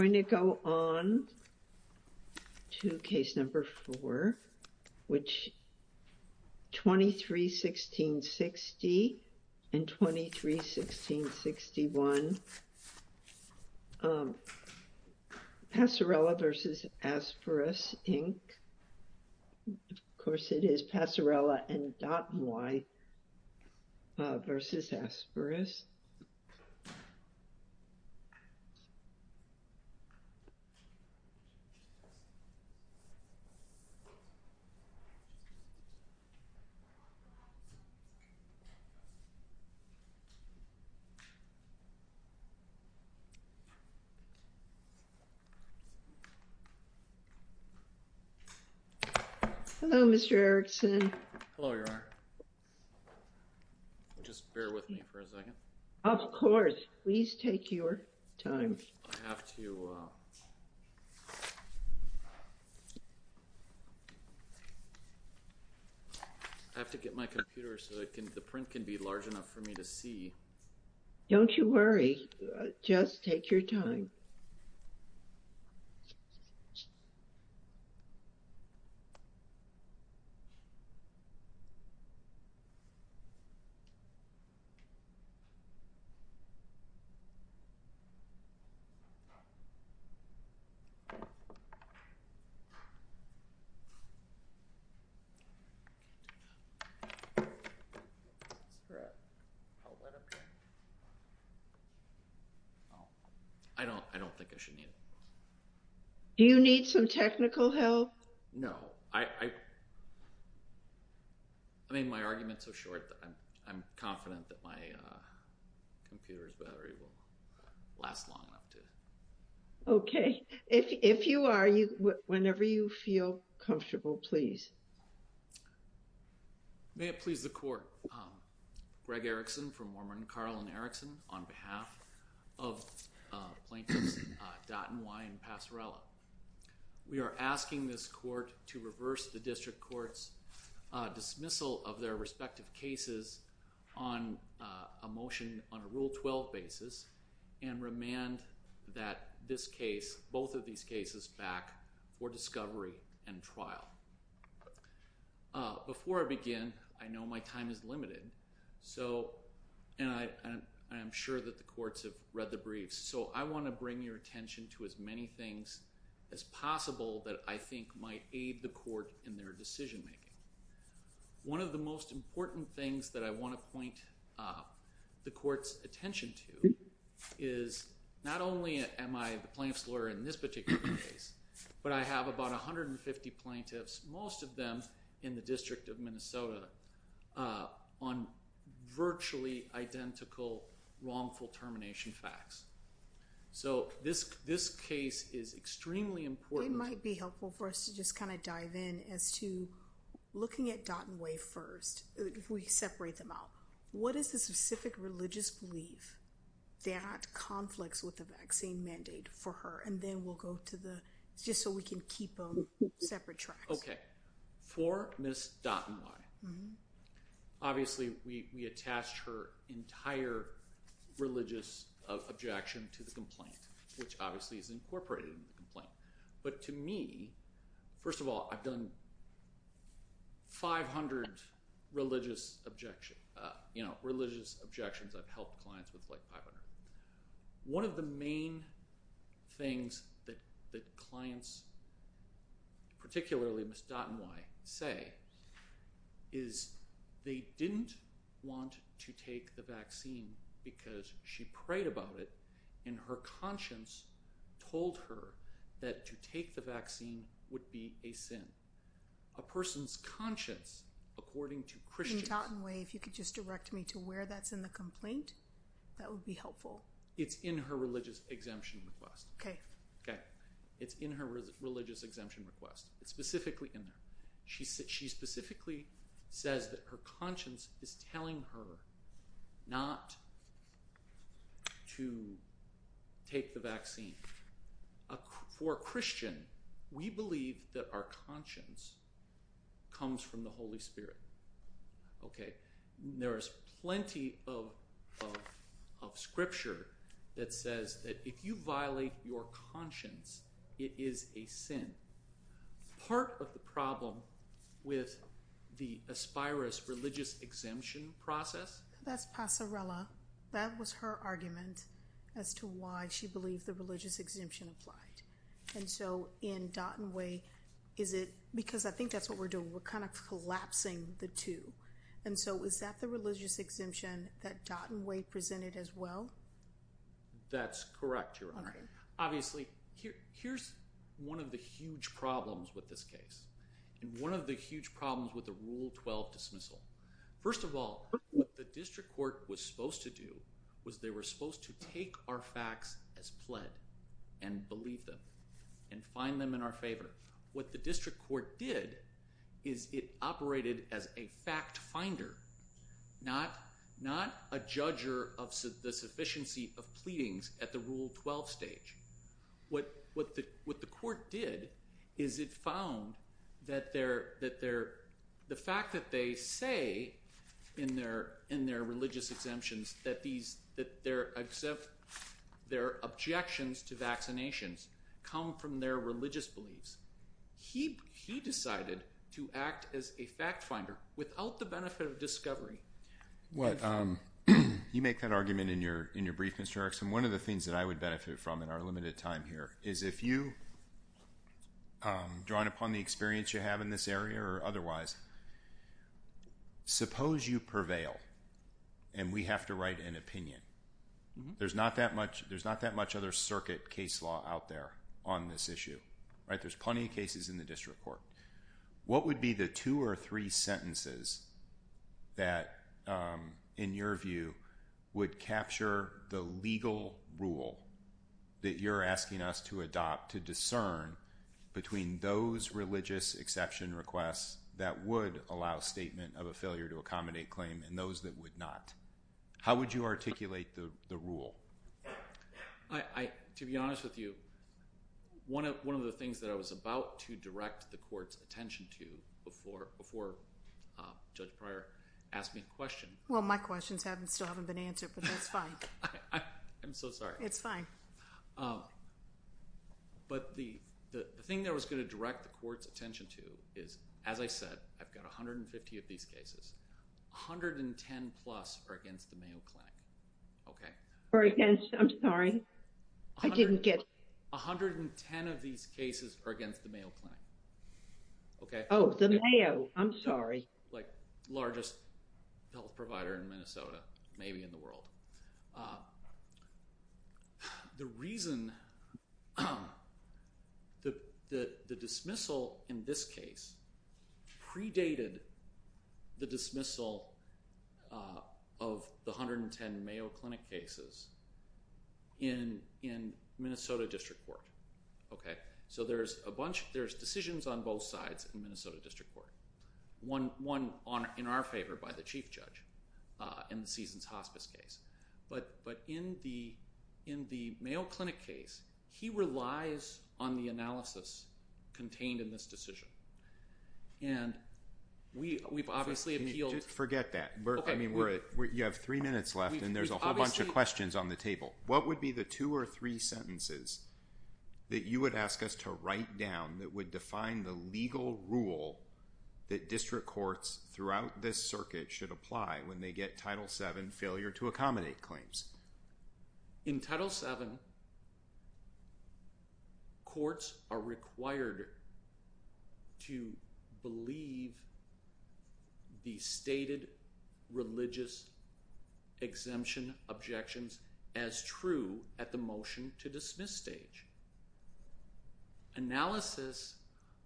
We're going to go on to case number four, which is 23-16-60 and 23-16-61 Passarella v. Aspirus, Inc. Of course, it is Passarella and not Y v. Aspirus. Hello, Mr. Erickson. Hello, Your Honor. Just bear with me for a second. Of course. Please take your time. I have to get my computer so the print can be large enough for me to see. Don't you worry. Just take your time. I don't think I should need it. Do you need some technical help? No. I made my argument so short that I'm confident that my computer's battery will last long enough to. Okay. If you are, whenever you feel comfortable, please. May it please the Court. Greg Erickson for Mormon, Carl and Erickson on behalf of plaintiffs Dott and Wye and Passarella. We are asking this Court to reverse the District Court's dismissal of their respective cases on a motion on a Rule 12 basis and remand that this case, both of these cases, back for discovery and trial. Before I begin, I know my time is limited, and I am sure that the courts have read the briefs, so I want to bring your attention to as many things as possible that I think might aid the court in their decision-making. One of the most important things that I want to point the court's attention to is not only am I the plaintiff's lawyer in this particular case, but I have about 150 plaintiffs, most of them in the District of Minnesota, on virtually identical wrongful termination facts. So this case is extremely important. It might be helpful for us to just kind of dive in as to, looking at Dott and Wye first, if we separate them out, what is the specific religious belief that conflicts with the vaccine mandate for her? And then we'll go to the, just so we can keep them separate tracks. Okay. For Ms. Dott and Wye, obviously we attached her entire religious objection to the complaint, which obviously is incorporated in the complaint. But to me, first of all, I've done 500 religious objections. You know, religious objections, I've helped clients with like 500. One of the main things that clients, particularly Ms. Dott and Wye, say is they didn't want to take the vaccine because she prayed about it and her conscience told her that to take the vaccine would be a sin. A person's conscience, according to Christians... In Dott and Wye, if you could just direct me to where that's in the complaint, that would be helpful. It's in her religious exemption request. Okay. Okay. It's in her religious exemption request. It's specifically in there. She specifically says that her conscience is telling her not to take the vaccine. For a Christian, we believe that our conscience comes from the Holy Spirit. Okay. There is plenty of scripture that says that if you violate your conscience, it is a sin. Part of the problem with the Aspirus religious exemption process... That's Passarella. That was her argument as to why she believed the religious exemption applied. And so in Dott and Wye, is it... Because I think that's what we're doing. We're kind of collapsing the two. And so is that the religious exemption that Dott and Wye presented as well? That's correct, Your Honor. Obviously, here's one of the huge problems with this case and one of the huge problems with the Rule 12 dismissal. First of all, what the district court was supposed to do was they were supposed to take our facts as pled and believe them and find them in our favor. What the district court did is it operated as a fact finder, not a judger of the sufficiency of pleadings at the Rule 12 stage. What the court did is it found that the fact that they say in their religious exemptions that their objections to vaccinations come from their religious beliefs. He decided to act as a fact finder without the benefit of discovery. You make that argument in your brief, Mr. Erickson. One of the things that I would benefit from in our limited time here is if you, drawing upon the experience you have in this area or otherwise, suppose you prevail and we have to write an opinion. There's not that much other circuit case law out there on this issue. There's plenty of cases in the district court. What would be the two or three sentences that, in your view, would capture the legal rule that you're asking us to adopt to discern between those religious exception requests that would allow statement of a failure to accommodate claim and those that would not? How would you articulate the rule? To be honest with you, one of the things that I was about to direct the court's attention to before Judge Pryor asked me a question. Well, my questions still haven't been answered, but that's fine. I'm so sorry. It's fine. But the thing that I was going to direct the court's attention to is, as I said, I've got 150 of these cases. 110 plus are against the Mayo Clinic. I'm sorry. I didn't get it. 110 of these cases are against the Mayo Clinic. Oh, the Mayo. I'm sorry. The largest health provider in Minnesota, maybe in the world. The reason the dismissal in this case predated the dismissal of the 110 Mayo Clinic cases in Minnesota District Court. Okay? So there's a bunch. There's decisions on both sides in Minnesota District Court. One in our favor by the Chief Judge in the Seasons Hospice case. But in the Mayo Clinic case, he relies on the analysis contained in this decision. And we've obviously appealed. Forget that. You have three minutes left, and there's a whole bunch of questions on the table. What would be the two or three sentences that you would ask us to write down that would define the legal rule that district courts throughout this circuit should apply when they get Title VII failure to accommodate claims? In Title VII, courts are required to believe the stated religious exemption objections as true at the motion to dismiss stage. Analysis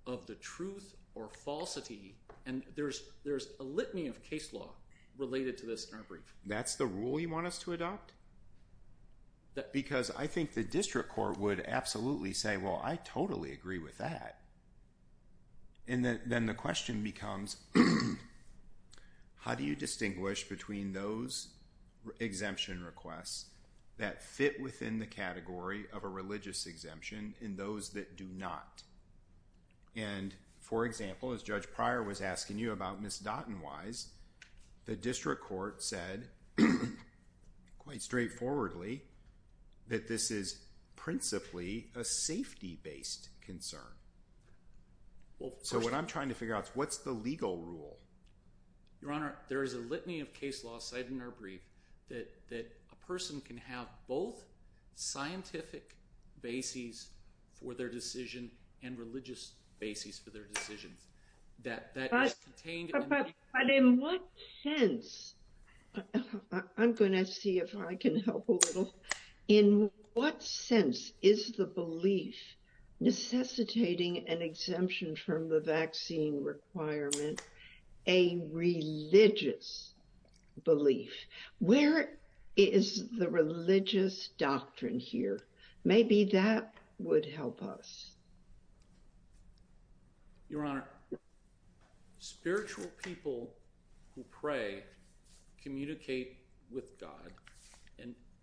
of the truth or falsity, and there's a litany of case law related to this in our brief. That's the rule you want us to adopt? Because I think the district court would absolutely say, well, I totally agree with that. And then the question becomes, how do you distinguish between those exemption requests that fit within the category of a religious exemption and those that do not? And, for example, as Judge Pryor was asking you about, Ms. Dotton-Wise, the district court said quite straightforwardly that this is principally a safety-based concern. So what I'm trying to figure out is, what's the legal rule? Your Honor, there is a litany of case law cited in our brief that a person can have both scientific bases for their decision and religious bases for their decisions. But in what sense – I'm going to see if I can help a little – in what sense is the belief necessitating an exemption from the vaccine requirement a religious belief? Where is the religious doctrine here? Maybe that would help us. Your Honor, spiritual people who pray communicate with God.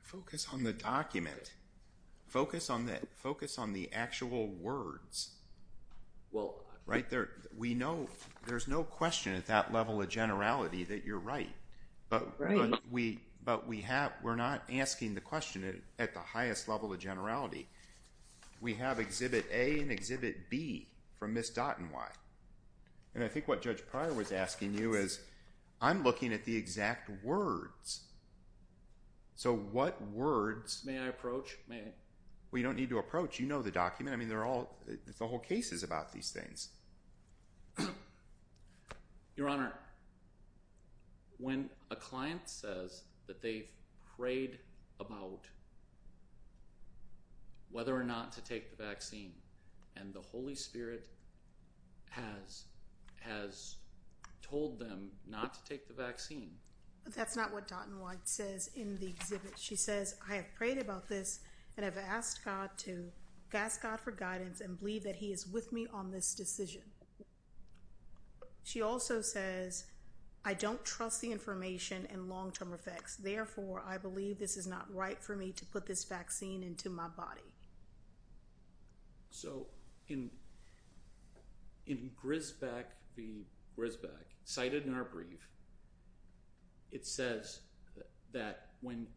Focus on the document. Focus on the actual words. Right? There's no question at that level of generality that you're right. Right. We have Exhibit A and Exhibit B from Ms. Dotton-Wise. And I think what Judge Pryor was asking you is, I'm looking at the exact words. So what words – May I approach? Well, you don't need to approach. You know the document. I mean, they're all – the whole case is about these things. Your Honor, when a client says that they've prayed about whether or not to take the vaccine and the Holy Spirit has told them not to take the vaccine – That's not what Dotton-Wise says in the exhibit. She says, I have prayed about this and have asked God for guidance and believe that he is with me on this decision. She also says, I don't trust the information and long-term effects. Therefore, I believe this is not right for me to put this vaccine into my body. So in Grisbeck v. Grisbeck, cited in our brief, it says that when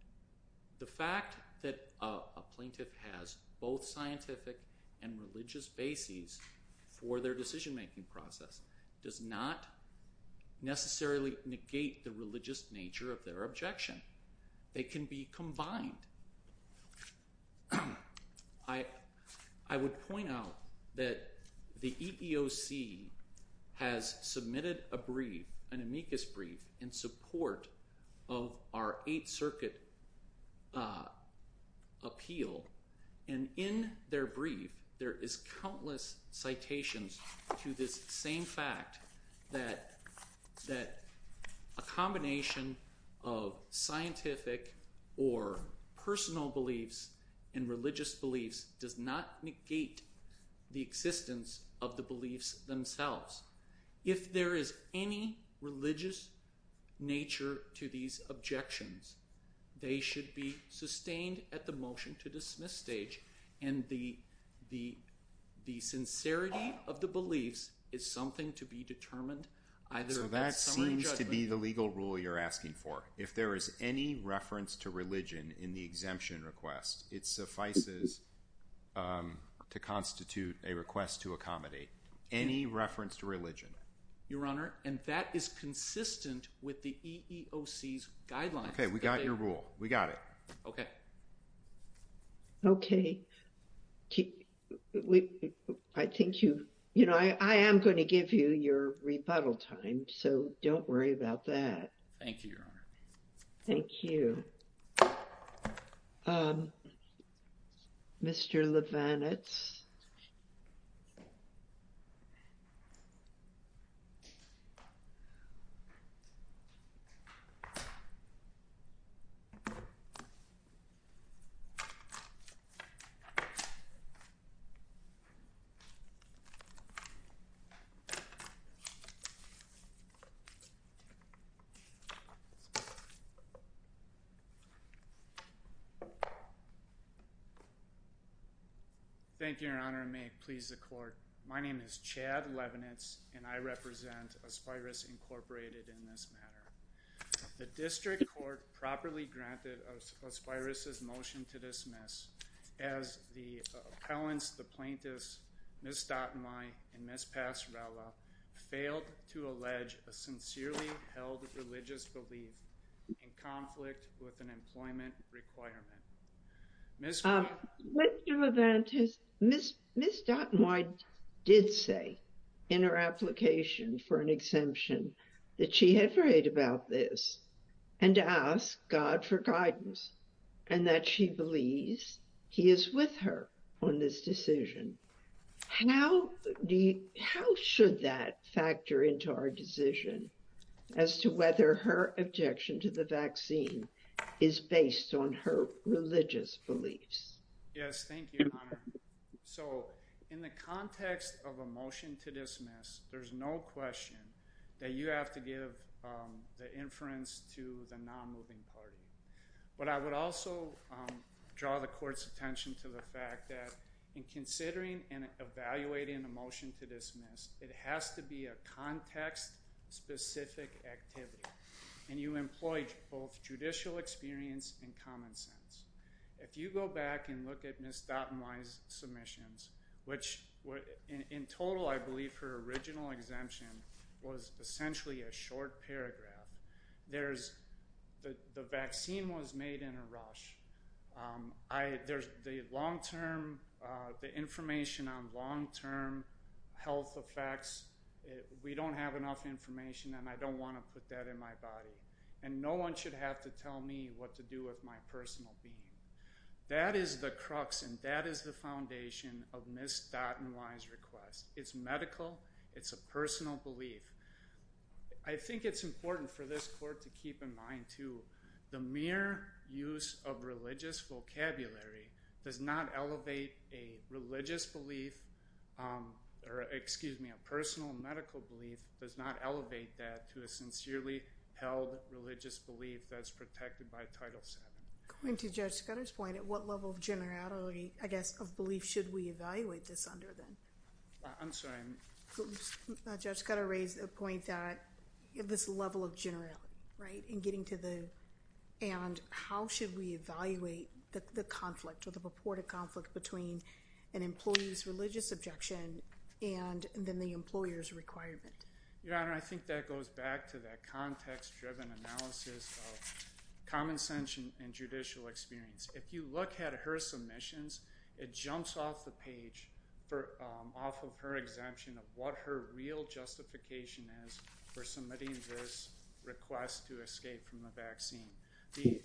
the fact that a plaintiff has both scientific and religious bases for their decision-making process does not necessarily negate the religious nature of their objection. They can be combined. I would point out that the EEOC has submitted a brief, an amicus brief, in support of our Eighth Circuit appeal. And in their brief, there is countless citations to this same fact that a combination of scientific or personal beliefs and religious beliefs does not negate the existence of the beliefs themselves. If there is any religious nature to these objections, they should be sustained at the motion-to-dismiss stage. And the sincerity of the beliefs is something to be determined either at summary or judgment. So that seems to be the legal rule you're asking for. If there is any reference to religion in the exemption request, it suffices to constitute a request to accommodate. Any reference to religion. Your Honor, and that is consistent with the EEOC's guidelines. Okay, we got your rule. We got it. Okay. Okay. I think you, you know, I am going to give you your rebuttal time. So don't worry about that. Thank you, Your Honor. Thank you. Mr. Leibowitz. Thank you, Your Honor. May it please the court. My name is Chad Leibowitz, and I represent Aspyrus Incorporated in this matter. The district court properly granted Aspyrus' motion to dismiss, as the appellants, the plaintiffs, Ms. Dautenwey and Ms. Pasarela, failed to allege a sincerely held religious belief in conflict with an employment requirement. Ms. Dautenwey did say in her application for an exemption that she had read about this and to ask God for guidance and that she believes he is with her on this decision. How should that factor into our decision as to whether her objection to the vaccine is based on her religious beliefs? Yes, thank you, Your Honor. So in the context of a motion to dismiss, there's no question that you have to give the inference to the non-moving party. But I would also draw the court's attention to the fact that in considering and evaluating a motion to dismiss, it has to be a context-specific activity, and you employ both judicial experience and common sense. If you go back and look at Ms. Dautenwey's submissions, which in total I believe her original exemption was essentially a short paragraph, the vaccine was made in a rush. The information on long-term health effects, we don't have enough information, and I don't want to put that in my body. And no one should have to tell me what to do with my personal being. That is the crux and that is the foundation of Ms. Dautenwey's request. It's medical. It's a personal belief. I think it's important for this court to keep in mind, too, the mere use of religious vocabulary does not elevate a religious belief or, excuse me, a personal medical belief does not elevate that to a sincerely held religious belief that's protected by Title VII. Going to Judge Scudder's point, at what level of generality, I guess, of belief should we evaluate this under then? I'm sorry. Judge Scudder raised a point that this level of generality, right, in getting to the and how should we evaluate the conflict or the purported conflict between an employee's religious objection and then the employer's requirement? Your Honor, I think that goes back to that context-driven analysis of common sense and judicial experience. If you look at her submissions, it jumps off the page off of her exemption of what her real justification is for submitting this request to escape from the vaccine. The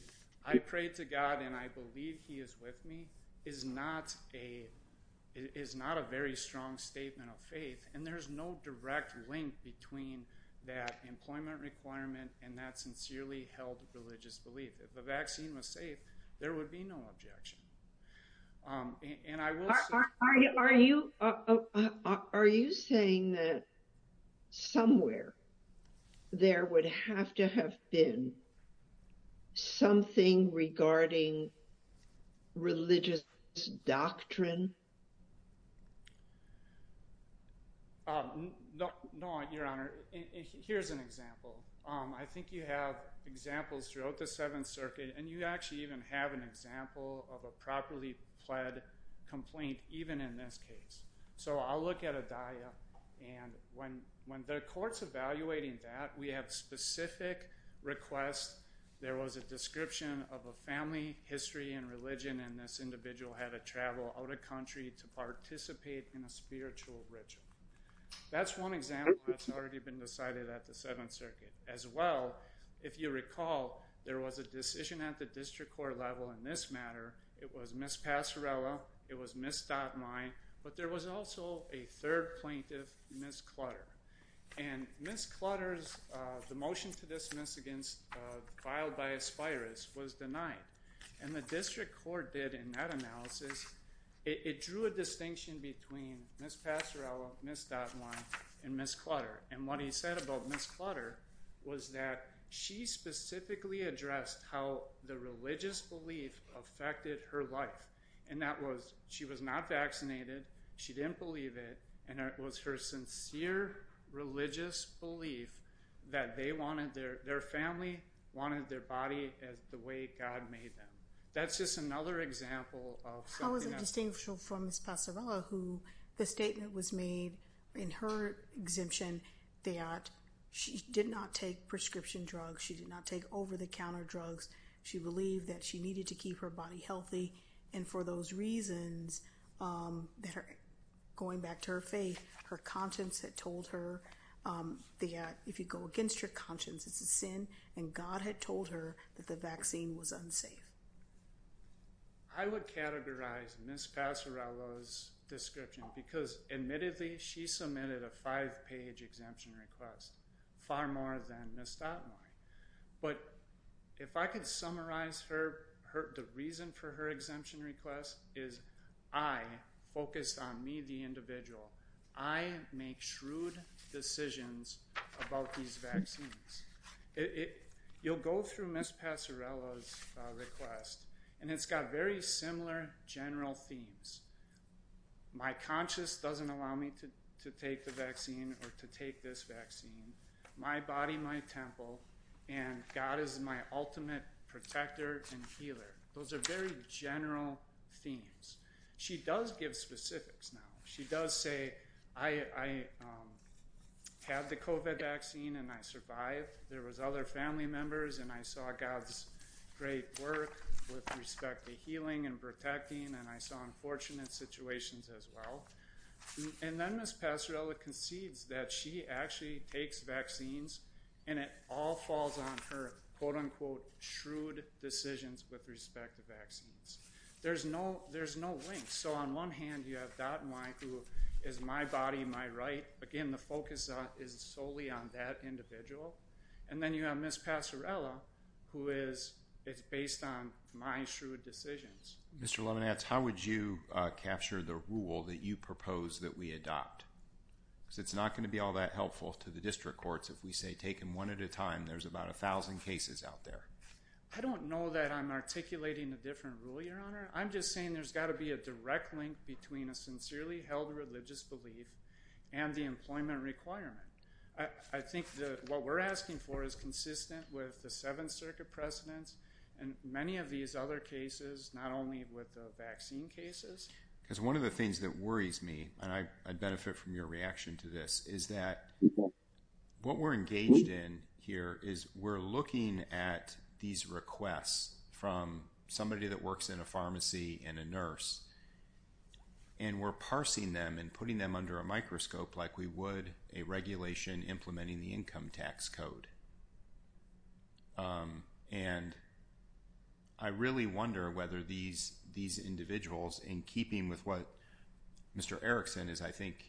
I pray to God and I believe he is with me is not a very strong statement of faith, and there's no direct link between that employment requirement and that sincerely held religious belief. If the vaccine was safe, there would be no objection. Are you saying that somewhere there would have to have been something regarding religious doctrine? No, Your Honor. Here's an example. I think you have examples throughout the Seventh Circuit, and you actually even have an example of a properly pled complaint even in this case. So I'll look at a daiya, and when the court's evaluating that, we have specific requests. There was a description of a family history and religion, and this individual had to travel out of country to participate in a spiritual ritual. That's one example that's already been decided at the Seventh Circuit. As well, if you recall, there was a decision at the district court level in this matter. It was Ms. Passarella. It was Ms. Dotline. But there was also a third plaintiff, Ms. Clutter. And Ms. Clutter's motion to dismiss against filed by Aspiris was denied, and the district court did in that analysis, it drew a distinction between Ms. Passarella, Ms. Dotline, and Ms. Clutter. And what he said about Ms. Clutter was that she specifically addressed how the religious belief affected her life, and that was she was not vaccinated, she didn't believe it, and it was her sincere religious belief that their family wanted their body the way God made them. That's just another example of something else. How is it distinct from Ms. Passarella, who the statement was made in her exemption that she did not take prescription drugs, she did not take over-the-counter drugs, she believed that she needed to keep her body healthy, and for those reasons, going back to her faith, her conscience had told her that if you go against your conscience, it's a sin, and God had told her that the vaccine was unsafe. I would categorize Ms. Passarella's description because, admittedly, she submitted a five-page exemption request, far more than Ms. Dotline. But if I could summarize the reason for her exemption request is I focused on me, the individual. I make shrewd decisions about these vaccines. You'll go through Ms. Passarella's request, and it's got very similar general themes. My conscience doesn't allow me to take the vaccine or to take this vaccine. My body, my temple, and God is my ultimate protector and healer. Those are very general themes. She does give specifics now. She does say, I had the COVID vaccine, and I survived. There was other family members, and I saw God's great work with respect to healing and protecting, and I saw unfortunate situations as well. Then Ms. Passarella concedes that she actually takes vaccines, and it all falls on her, quote-unquote, shrewd decisions with respect to vaccines. There's no link. On one hand, you have Dotline, who is my body, my right. Again, the focus is solely on that individual. Then you have Ms. Passarella, who is based on my shrewd decisions. Mr. Leibniz, how would you capture the rule that you propose that we adopt? It's not going to be all that helpful to the district courts if we say, take them one at a time. There's about 1,000 cases out there. I don't know that I'm articulating a different rule, Your Honor. I'm just saying there's got to be a direct link between a sincerely held religious belief and the employment requirement. I think that what we're asking for is consistent with the Seventh Circuit precedents and many of these other cases, not only with the vaccine cases. Because one of the things that worries me, and I benefit from your reaction to this, is that what we're engaged in here is we're looking at these requests from somebody that works in a pharmacy and a nurse, and we're parsing them and putting them under a microscope like we would a regulation implementing the income tax code. I really wonder whether these individuals, in keeping with what Mr. Erickson is, I think,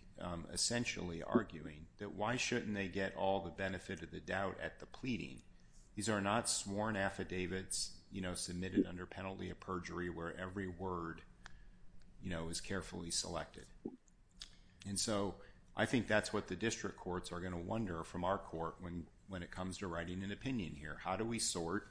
essentially arguing, that why shouldn't they get all the benefit of the doubt at the pleading? These are not sworn affidavits submitted under penalty of perjury where every word is carefully selected. I think that's what the district courts are going to wonder from our court when it comes to writing an opinion here. How do we sort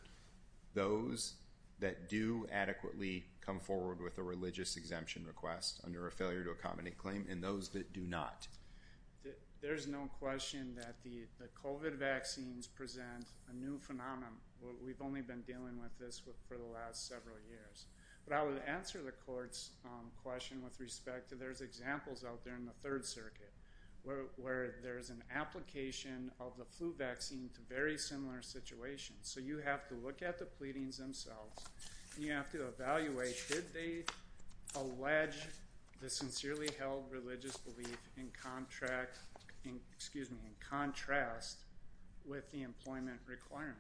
those that do adequately come forward with a religious exemption request under a failure to accommodate claim and those that do not? There's no question that the COVID vaccines present a new phenomenon. We've only been dealing with this for the last several years. But I would answer the court's question with respect to there's examples out there in the Third Circuit where there's an application of the flu vaccine to very similar situations. So you have to look at the pleadings themselves. You have to evaluate, did they allege the sincerely held religious belief in contrast with the employment requirement?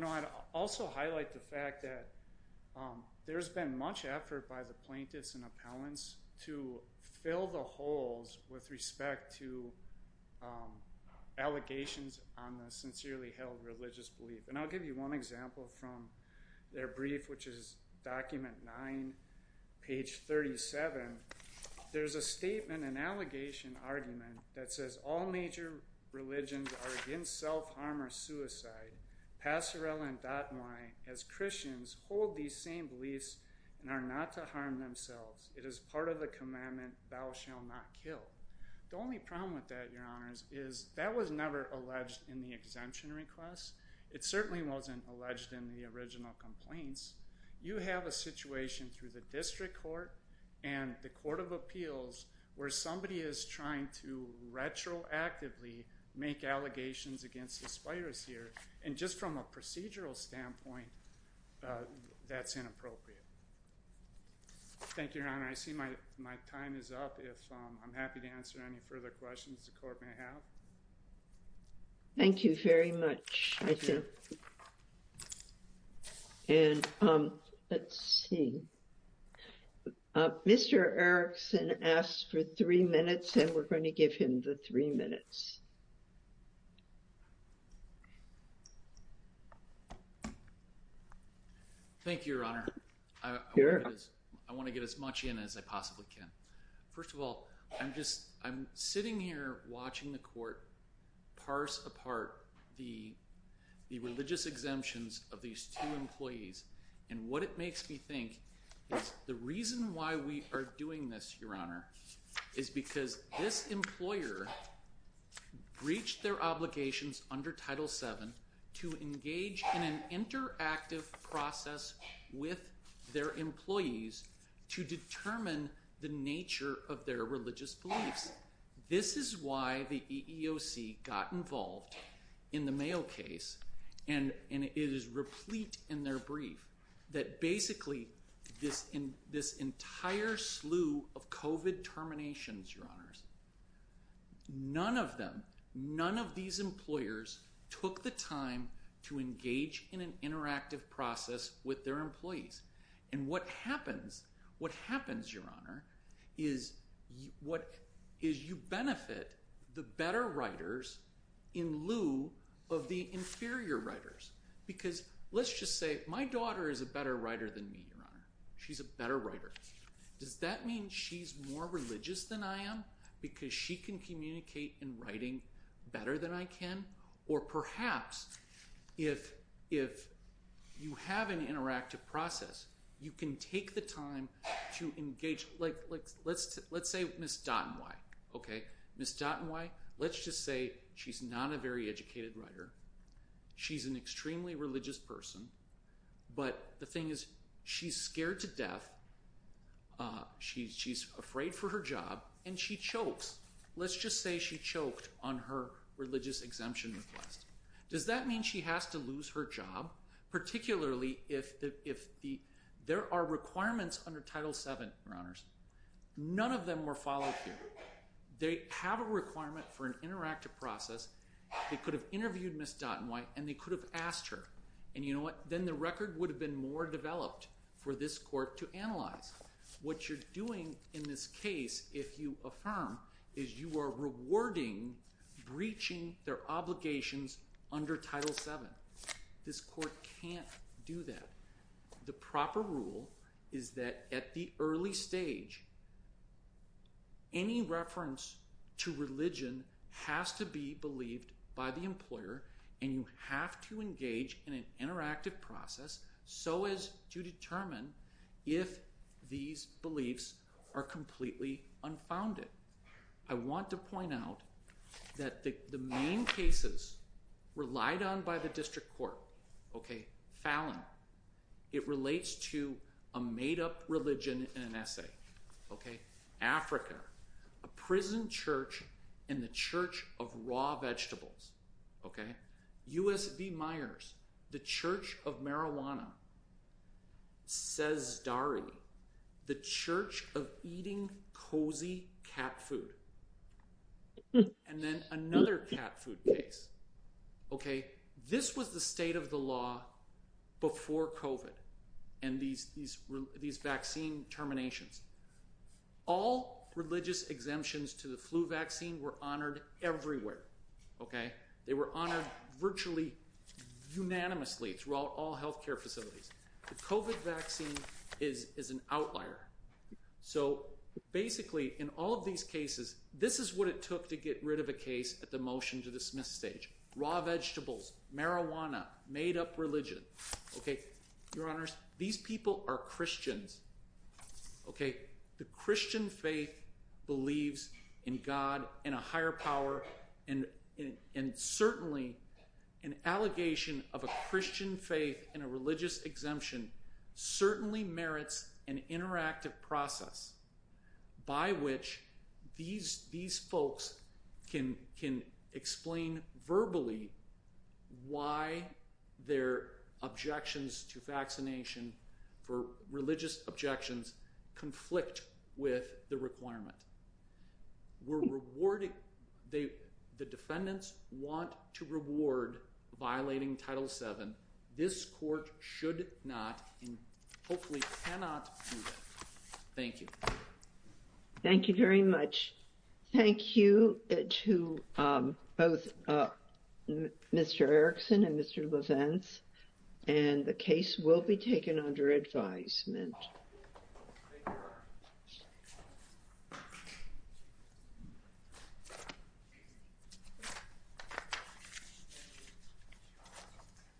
I'd also highlight the fact that there's been much effort by the plaintiffs and appellants to fill the holes with respect to allegations on the sincerely held religious belief. And I'll give you one example from their brief, which is document 9, page 37. There's a statement, an allegation argument that says all major religions are against self-harm or suicide. Passerelle and Datouin, as Christians, hold these same beliefs and are not to harm themselves. It is part of the commandment, thou shall not kill. The only problem with that, your honors, is that was never alleged in the exemption request. It certainly wasn't alleged in the original complaints. You have a situation through the district court and the court of appeals where somebody is trying to retroactively make allegations against this virus here. And just from a procedural standpoint, that's inappropriate. Thank you, your honor. I see my time is up. If I'm happy to answer any further questions the court may have. Thank you very much. Thank you. And let's see. Mr. Erickson asked for three minutes and we're going to give him the three minutes. Thank you, your honor. I want to get as much in as I possibly can. First of all, I'm sitting here watching the court parse apart the religious exemptions of these two employees. And what it makes me think is the reason why we are doing this, your honor, is because this employer breached their obligations under Title VII to engage in an interactive process with their employees to determine the nature of their religious beliefs. This is why the EEOC got involved in the Mayo case. And it is replete in their brief that basically this entire slew of COVID terminations, your honors, none of them, none of these employers took the time to engage in an interactive process with their employees. And what happens, your honor, is you benefit the better writers in lieu of the inferior writers. Because let's just say my daughter is a better writer than me, your honor. She's a better writer. Does that mean she's more religious than I am because she can communicate in writing better than I can? Or perhaps if you have an interactive process, you can take the time to engage. Let's say Ms. Dotton-White. Okay. Ms. Dotton-White, let's just say she's not a very educated writer. She's an extremely religious person. But the thing is she's scared to death. She's afraid for her job. And she chokes. Let's just say she choked on her religious exemption request. Does that mean she has to lose her job, particularly if there are requirements under Title VII, your honors? None of them were followed here. They have a requirement for an interactive process. They could have interviewed Ms. Dotton-White and they could have asked her. And you know what? What you're doing in this case, if you affirm, is you are rewarding breaching their obligations under Title VII. This court can't do that. The proper rule is that at the early stage, any reference to religion has to be believed by the employer and you have to engage in an interactive process so as to determine if these beliefs are completely unfounded. I want to point out that the main cases relied on by the district court, Fallon, it relates to a made-up religion in an essay. Africa, a prison church and the church of raw vegetables. USB Myers, the church of marijuana. Sesdari, the church of eating cozy cat food. And then another cat food case. This was the state of the law before COVID and these vaccine terminations. All religious exemptions to the flu vaccine were honored everywhere. They were honored virtually unanimously throughout all health care facilities. The COVID vaccine is an outlier. So basically in all of these cases, this is what it took to get rid of a case at the motion to dismiss stage. Raw vegetables, marijuana, made-up religion. Your Honors, these people are Christians. The Christian faith believes in God and a higher power and certainly an allegation of a Christian faith and a religious exemption certainly merits an interactive process by which these folks can explain verbally why their objections to vaccination for religious objections conflict with the requirement. The defendants want to reward violating Title VII. This court should not and hopefully cannot do that. Thank you. Thank you very much. Thank you to both Mr. Erickson and Mr. LaVance. And the case will be taken under advisement. Thank you.